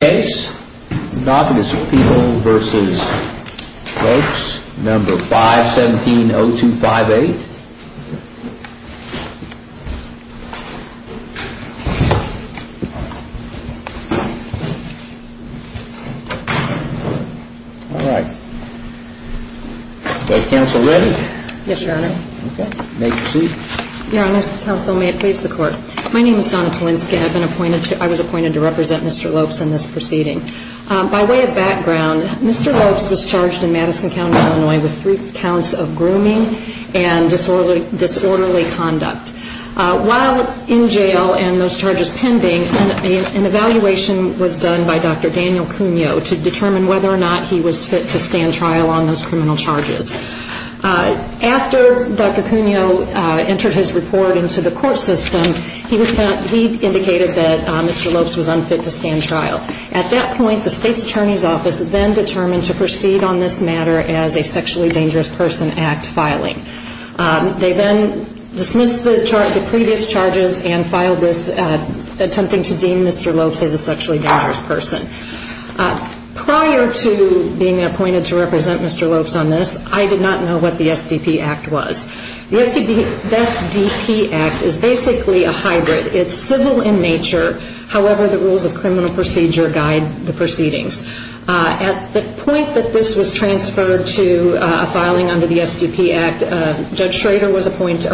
May it please the Court. My name is Donna Polinska. I was appointed to represent Mr. Lopes in this proceeding. By way of background, Mr. Lopes was charged in Madison County, Illinois with three counts of grooming and disorderly conduct. While in jail and those charges pending, an evaluation was done by Dr. Daniel Cuneo to determine whether or not he was fit to stand trial on those criminal charges. After Dr. Cuneo entered his report into the court system, he indicated that Mr. Lopes was unfit to stand trial. At that point, the state's attorney's office then determined to proceed on this matter as a sexually dangerous person act filing. They then dismissed the previous charges and filed this attempting to deem Mr. Lopes as a sexually dangerous person. Prior to being appointed to represent Mr. Lopes on this, I did not know what the SDP Act was. The SDP Act is basically a hybrid. It's civil in nature. However, the rules of criminal procedure guide the proceedings. At the point that this was transferred to a filing under the SDP Act, Judge Schrader was appointed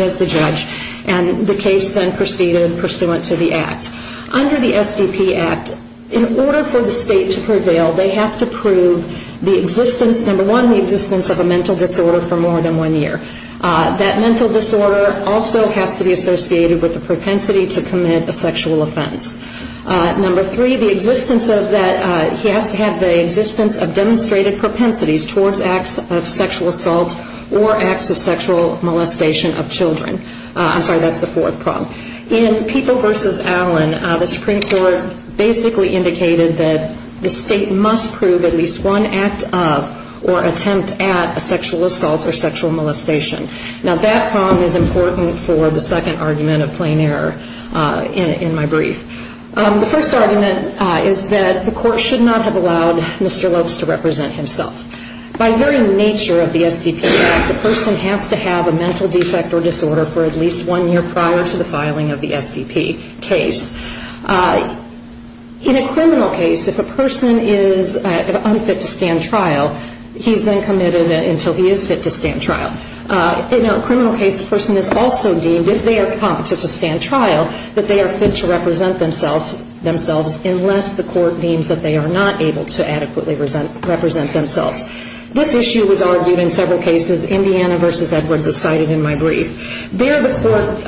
as the judge and the case then proceeded pursuant to the Act. Under the SDP Act, in order for the state to prevail, they have to one, the existence of a mental disorder for more than one year. That mental disorder also has to be associated with the propensity to commit a sexual offense. Number three, the existence of that, he has to have the existence of demonstrated propensities towards acts of sexual assault or acts of sexual molestation of children. I'm sorry, that's the fourth prong. In People v. Allen, the Supreme Court basically indicated that the state must prove at least one act of or attempt at a sexual assault or sexual molestation. Now, that prong is important for the second argument of plain error in my brief. The first argument is that the court should not have allowed Mr. Lopes to represent himself. By very nature of the SDP Act, the person has to have a mental defect or disorder for at least one year prior to the filing of the SDP case. In a criminal case, if a person is unfit to stand trial, he's then committed until he is fit to stand trial. In a criminal case, the person is also deemed, if they are competent to stand trial, that they are fit to represent themselves unless the court deems that they are not able to adequately represent themselves. This issue was argued in several cases. Indiana v. Edwards is cited in my brief. There, the court,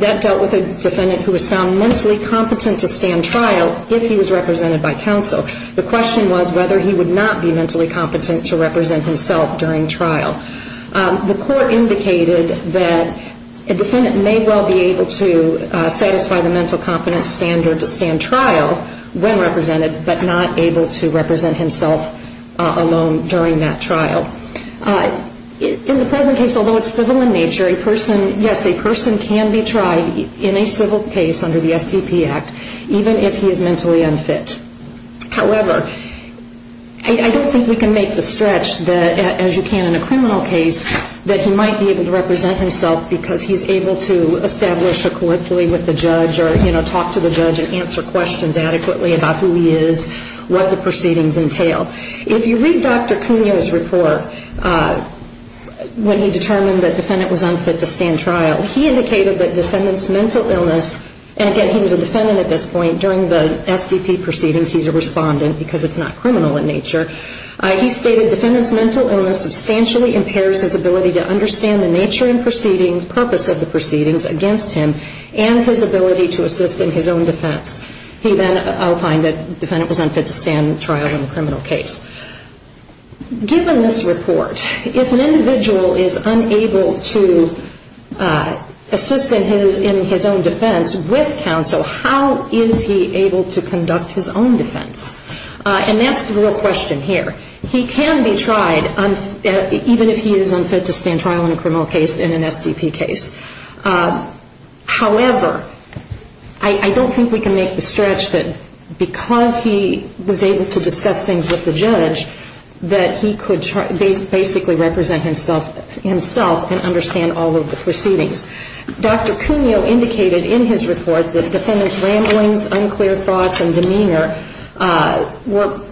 that dealt with a defendant who was found mentally competent to stand trial if he was represented by counsel. The question was whether he would not be mentally competent to represent himself during trial. The court indicated that a defendant may well be able to satisfy the mental competence standard to stand trial when represented, but not able to represent himself alone during trial. In the present case, although it's civil in nature, yes, a person can be tried in a civil case under the SDP Act, even if he is mentally unfit. However, I don't think we can make the stretch that, as you can in a criminal case, that he might be able to represent himself because he is able to establish a colloquially with the judge or talk to the judge and answer questions adequately about who he is, what the proceedings entail. If you read Dr. Cuneo's report, when he determined that the defendant was unfit to stand trial, he indicated that defendant's mental illness, and again, he was a defendant at this point. During the SDP proceedings, he's a respondent because it's not criminal in nature. He stated, defendant's mental illness substantially impairs his ability to understand the nature and purpose of the proceedings against him and his ability to assist in his own defense. He then opined that defendant was unfit to stand trial in a criminal case. Given this report, if an individual is unable to assist in his own defense with counsel, how is he able to conduct his own defense? And that's the real question here. He can be tried, even if he is unfit to stand trial in a criminal case, in an SDP case. However, I don't think we can make the stretch that, as you can in a criminal case, that he might be able to represent himself. I don't think we can make the stretch that, because he was able to discuss things with the judge, that he could basically represent himself and understand all of the proceedings. Dr. Cuneo indicated in his report that defendant's ramblings, unclear thoughts, and demeanor were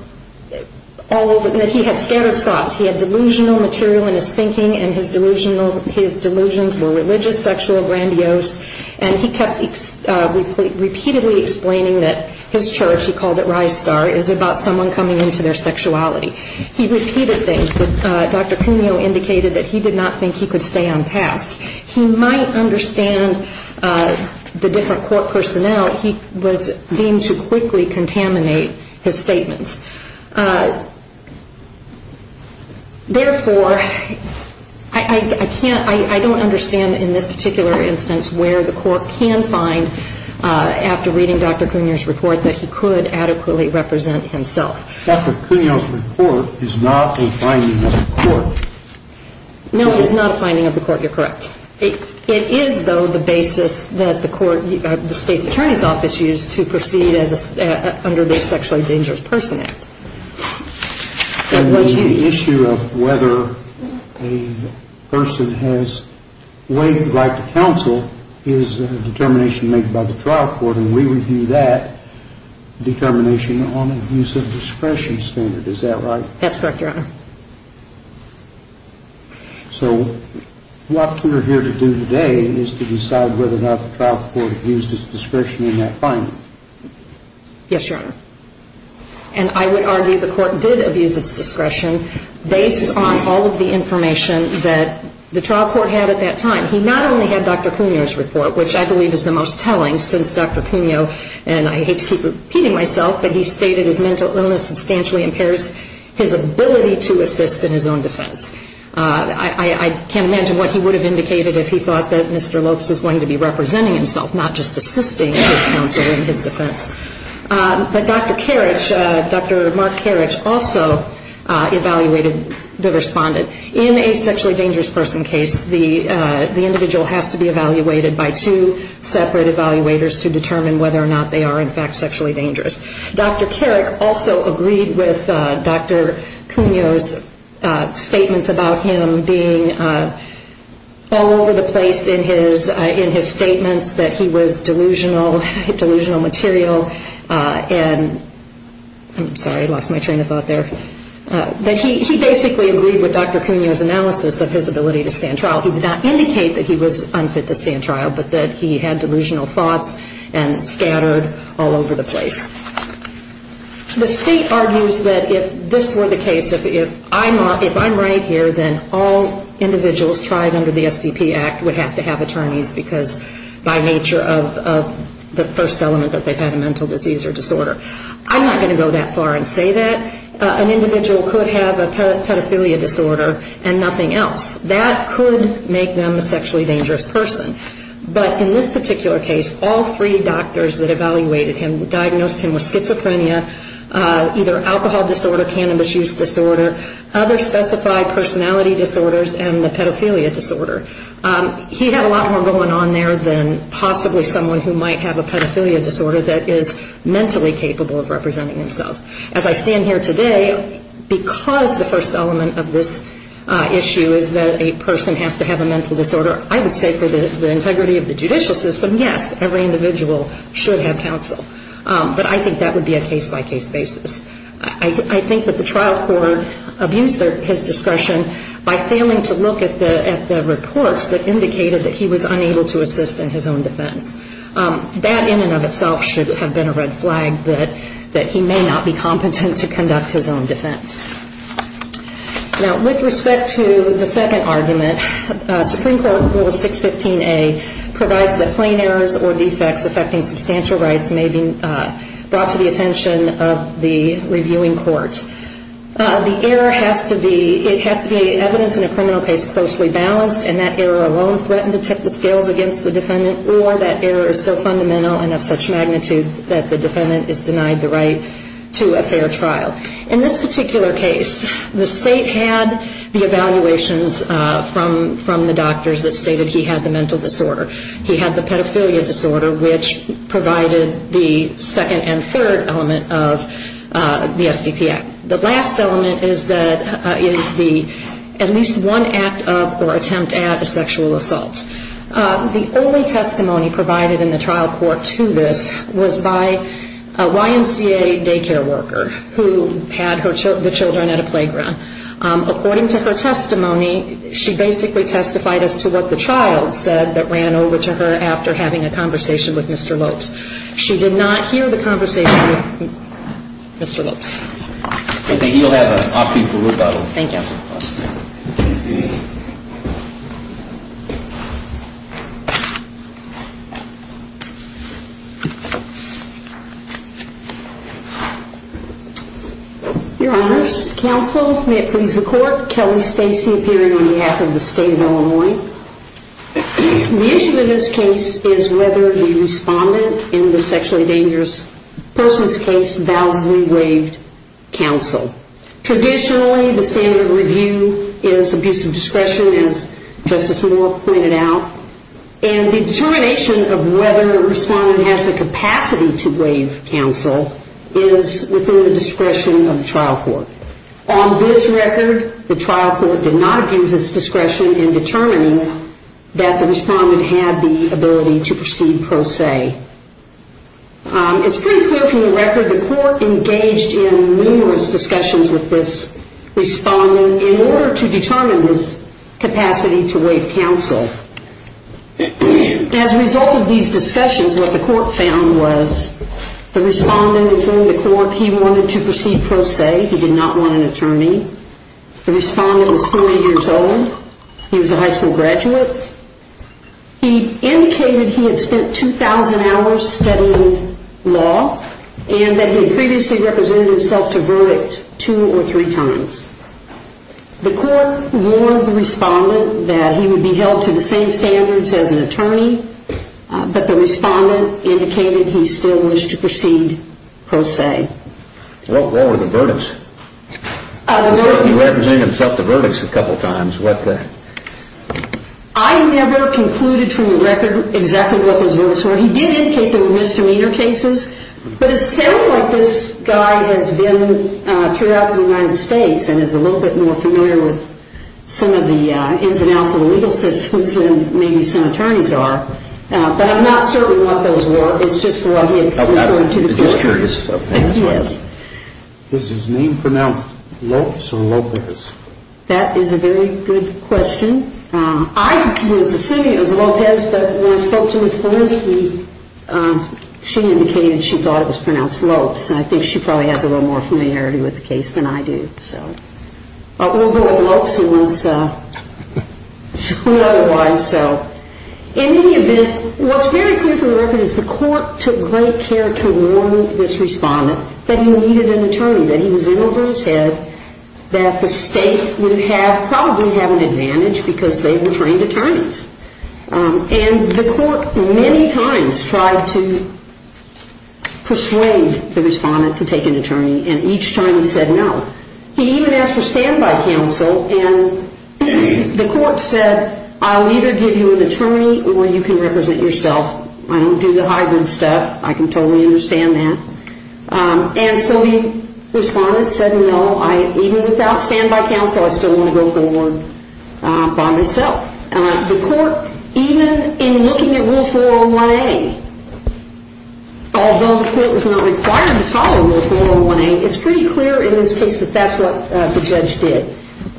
all over the place. He had scattered thoughts. He had delusional material in his thinking, and his delusions were religious, sexual, grandiose, and he kept repeatedly explaining that he was a defendant. He kept repeatedly explaining that his church, he called it Ristar, is about someone coming into their sexuality. He repeated things that Dr. Cuneo indicated that he did not think he could stay on task. He might understand the different court personnel he was deemed to quickly contaminate his statements. Therefore, I can't, I don't understand in this particular instance where the court can find, after reading Dr. Cuneo's report, that he could adequately represent himself. Dr. Cuneo's report is not a finding of the court. No, it is not a finding of the court. You're correct. It is, though, the basis that the court, the state's attorney's office used to proceed under this sexually dangerous person. And the issue of whether a person has waived the right to counsel is a determination made by the trial court, and we review that determination on the use of discretion standard. Is that right? That's correct, Your Honor. So what we're here to do today is to decide whether or not the trial court used its discretion in that finding. Yes, Your Honor. And I would argue the court did abuse its discretion based on all of the information that the trial court had at that time. He not only had Dr. Cuneo's report, which I believe is the most telling since Dr. Cuneo, and I hate to keep repeating myself, but he stated his mental illness substantially impairs his ability to assist in his own defense. I can't imagine what he would have indicated if he thought that Mr. Lopes was going to be representing himself, not just assisting his counsel in his defense. But Dr. Karich, Dr. Mark Karich, also evaluated the respondent. In a sexually dangerous person case, the individual has to be evaluated by two separate evaluators to determine whether or not they are in fact sexually dangerous. Dr. Karich also agreed with Dr. Cuneo's statements about him being all over the place in his statements that he was delusional, delusional material, and I'm sorry, I lost my train of thought there. But he basically agreed with Dr. Cuneo's analysis of his ability to stand trial. He did not indicate that he was unfit to stand trial, but that he had delusional thoughts and scattered all over the place. The state argues that if this were the case, if I'm right here, then all individuals tried under the SDP Act would have to have attorneys because by nature of the first element that they had a mental disease or disorder. I'm not going to go that far and say that. An individual could have a pedophilia disorder and nothing else. That could make them a sexually dangerous person. But in this particular case, all three doctors that evaluated him diagnosed him with schizophrenia, either alcohol disorder, cannabis use disorder, other specified personality disorders, and the pedophilia disorder. He had a lot more going on there than possibly someone who might have a pedophilia disorder that is mentally capable of representing themselves. As I stand here today, because the first element of this issue is that a person has to have a mental disorder, I would say for the integrity of the judicial system, yes, every individual should have counsel. But I think that would be a case-by-case basis. I think that the trial court abused his discretion by failing to look at the reports that indicated that he was unable to assist in his own defense. That in and of itself should have been a red flag, that he may not be competent to conduct his own defense. Now, with respect to the second argument, Supreme Court Rule 615A provides that plain errors or defects affecting substantial rights may be brought to the attention of the reviewing court. The error has to be evidence in a criminal case closely balanced, and that error alone threatened to tip the scales against the defendant or that error alone threatened to lead to a conviction. And that error is so fundamental and of such magnitude that the defendant is denied the right to a fair trial. In this particular case, the State had the evaluations from the doctors that stated he had the mental disorder. He had the pedophilia disorder, which provided the second and third element of the SDP Act. The last element is the at least one act of or attempt at a sexual assault. The only testimony provided in the trial court to this was by a YMCA daycare worker who had the children at a playground. According to her testimony, she basically testified as to what the child said that ran over to her after having a conversation with Mr. Lopes. She did not hear the conversation with Mr. Lopes. In this particular case, the State had the evaluations from the doctors that stated he had the mental disorder. The only testimony provided in the trial court to this was by a YMCA daycare worker who had the children at a playground. In this particular case, the State had the evaluations from the doctors that stated he had the mental disorder. According to her testimony, she basically testified as to what the child said that ran over to her after having a conversation with Mr. Lopes. It's pretty clear from the record the court engaged in numerous discussions with this respondent in order to determine his capacity to waive counsel. As a result of these discussions, what the court found was the respondent, including the court, he wanted to proceed pro se. He did not want an attorney. The respondent was 40 years old. He was a high school graduate. He indicated he had spent 2,000 hours studying law and that he had previously represented himself to verdict two or three times. The court warned the respondent that he would be held to the same standards as an attorney, but the respondent indicated he still wished to proceed pro se. What were the verdicts? I never concluded from the record exactly what those verdicts were. He did indicate there were misdemeanor cases, but it sounds like this guy has been throughout the United States and is a little bit more familiar with some of the ins and outs of the legal system than maybe some attorneys are. But I'm not certain what those were. Does his name pronounce Lopes or Lopez? That is a very good question. I was assuming it was Lopez, but when I spoke to his lawyer, she indicated she thought it was pronounced Lopes. I think she probably has a little more familiarity with the case than I do. We'll go with Lopes. What's very clear from the record is the court took great care to warn this respondent that he needed an attorney, that he was in over his head, that the state would probably have an advantage because they were trained attorneys. And the court many times tried to persuade the respondent to take an attorney, and each time he said no. He even asked for standby counsel, and the court said, I'll either give you an attorney or you can represent yourself. I don't do the hybrid stuff. I can totally understand that. And so the respondent said no, even without standby counsel, I still want to go forward by myself. The court, even in looking at Rule 401A, although the court was not required to follow Rule 401A, it's pretty clear in this case that that's what the judge did.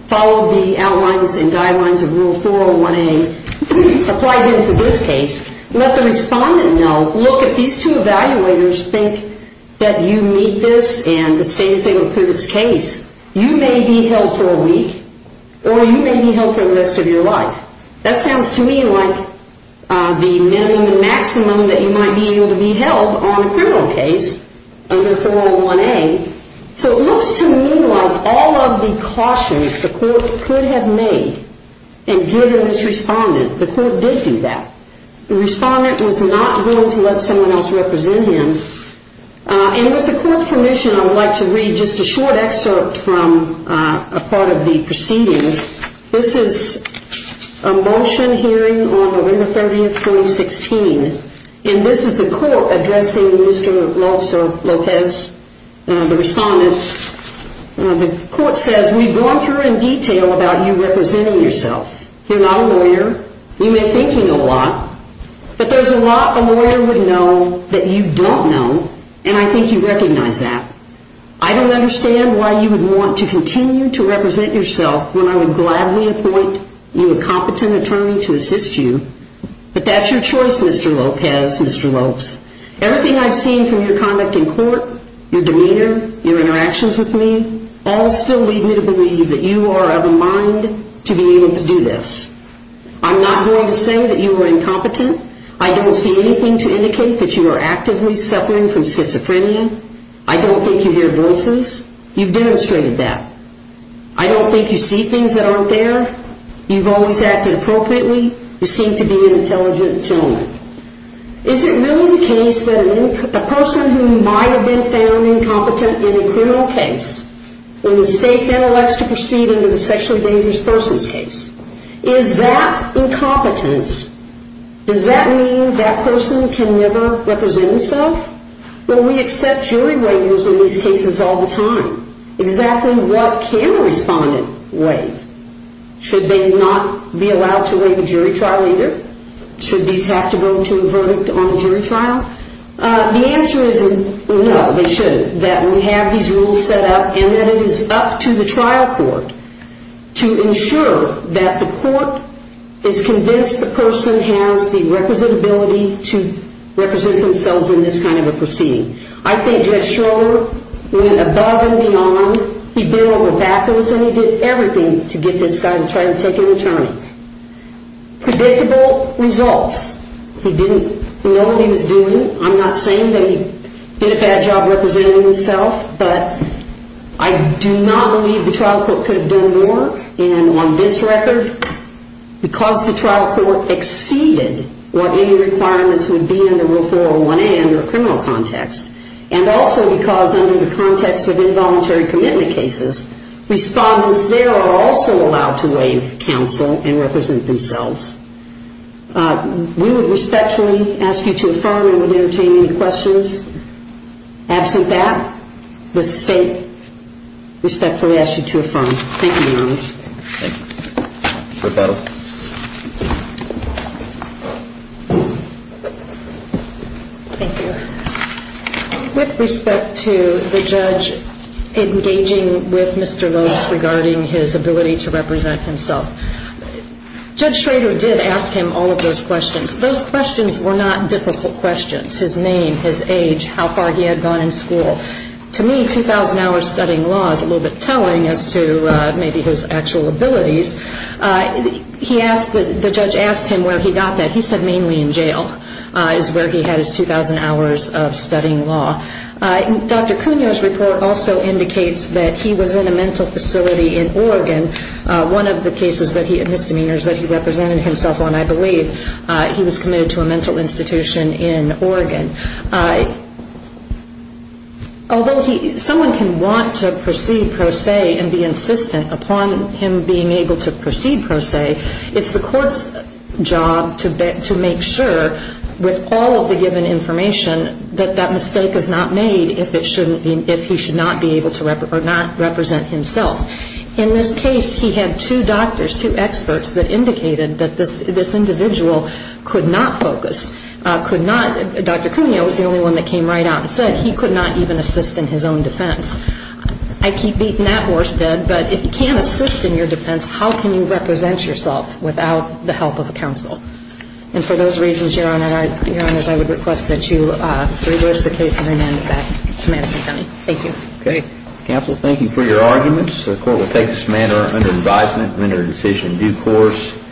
Followed the outlines and guidelines of Rule 401A. The court then applied them to this case, let the respondent know, look, if these two evaluators think that you meet this and the state is able to prove its case, you may be held for a week or you may be held for the rest of your life. That sounds to me like the minimum and maximum that you might be able to be held on a criminal case under 401A. So it looks to me like all of the cautions the court could have made and given this respondent, the court did do that. The respondent was not willing to let someone else represent him. And with the court's permission, I would like to read just a short excerpt from a part of the proceedings. This is a motion hearing on November 30, 2016. And this is the court addressing Mr. Lopez, the respondent. The court says, we've gone through in detail about you representing yourself. You're not a lawyer. You may think you know a lot. But there's a lot a lawyer would know that you don't know, and I think you recognize that. I don't understand why you would want to continue to represent yourself when I would gladly appoint you a competent attorney to assist you. But that's your choice, Mr. Lopez, Mr. Lopes. Everything I've seen from your conduct in court, your demeanor, your interactions with me, all still lead me to believe that you are of a mind to be able to do this. I'm not going to say that you are incompetent. I don't see anything to indicate that you are actively suffering from schizophrenia. I don't think you hear voices. You've demonstrated that. I don't think you see things that aren't there. You've always acted appropriately. You seem to be an intelligent gentleman. Is it really the case that a person who might have been found incompetent in a criminal case, when the state then elects to proceed into the sexually dangerous person's case, is that incompetence, does that mean that person can never represent himself? Well, we accept jury waivers in these cases all the time. Exactly what can a respondent waive? Should they not be allowed to waive a jury trial either? Should these have to go to a verdict on a jury trial? The answer is no, they shouldn't. I believe that we have these rules set up and that it is up to the trial court to ensure that the court is convinced the person has the representability to represent themselves in this kind of a proceeding. I think Judge Schroeder went above and beyond. He did everything to get this guy to try to take an attorney. Predictable results. He didn't know what he was doing. I'm not saying that he did a bad job representing himself, but I do not believe the trial court could have done more. And on this record, because the trial court exceeded what any requirements would be under Rule 401A under a criminal context, and also because under the context of involuntary commitment cases, respondents there are also allowed to waive counsel and represent themselves. We would respectfully ask you to affirm and would entertain any questions. Absent that, the State respectfully asks you to affirm. Thank you, Your Honor. Thank you. Court battle. Thank you. With respect to the judge engaging with Mr. Lopes regarding his ability to represent himself, Judge Schroeder did ask him all of those questions. Those questions were not difficult questions, his name, his age, how far he had gone in school. To me, 2,000 hours studying law is a little bit telling as to maybe his actual abilities. The judge asked him where he got that. He said mainly in jail is where he had his 2,000 hours of studying law. Dr. Cuneo's report also indicates that he was in a mental facility in Oregon. One of the cases that he had misdemeanors that he represented himself on, I believe, he was committed to a mental institution in Oregon. Although someone can want to proceed pro se and be insistent upon him being able to proceed pro se, it's the court's job to make sure, with all of the given information, that that mistake is not made if he should not be able to or not represent himself. In this case, he had two doctors, two experts that indicated that this individual could not focus, could not, Dr. Cuneo was the only one that came right out and said he could not even assist in his own defense. I keep beating that horse dead, but if you can't assist in your defense, how can you represent yourself without the help of a counsel? And for those reasons, Your Honor, I would request that you reverse the case and remand it back to Madison County. Thank you. Counsel, thank you for your arguments. The court will take this matter under advisement and render a decision in due course.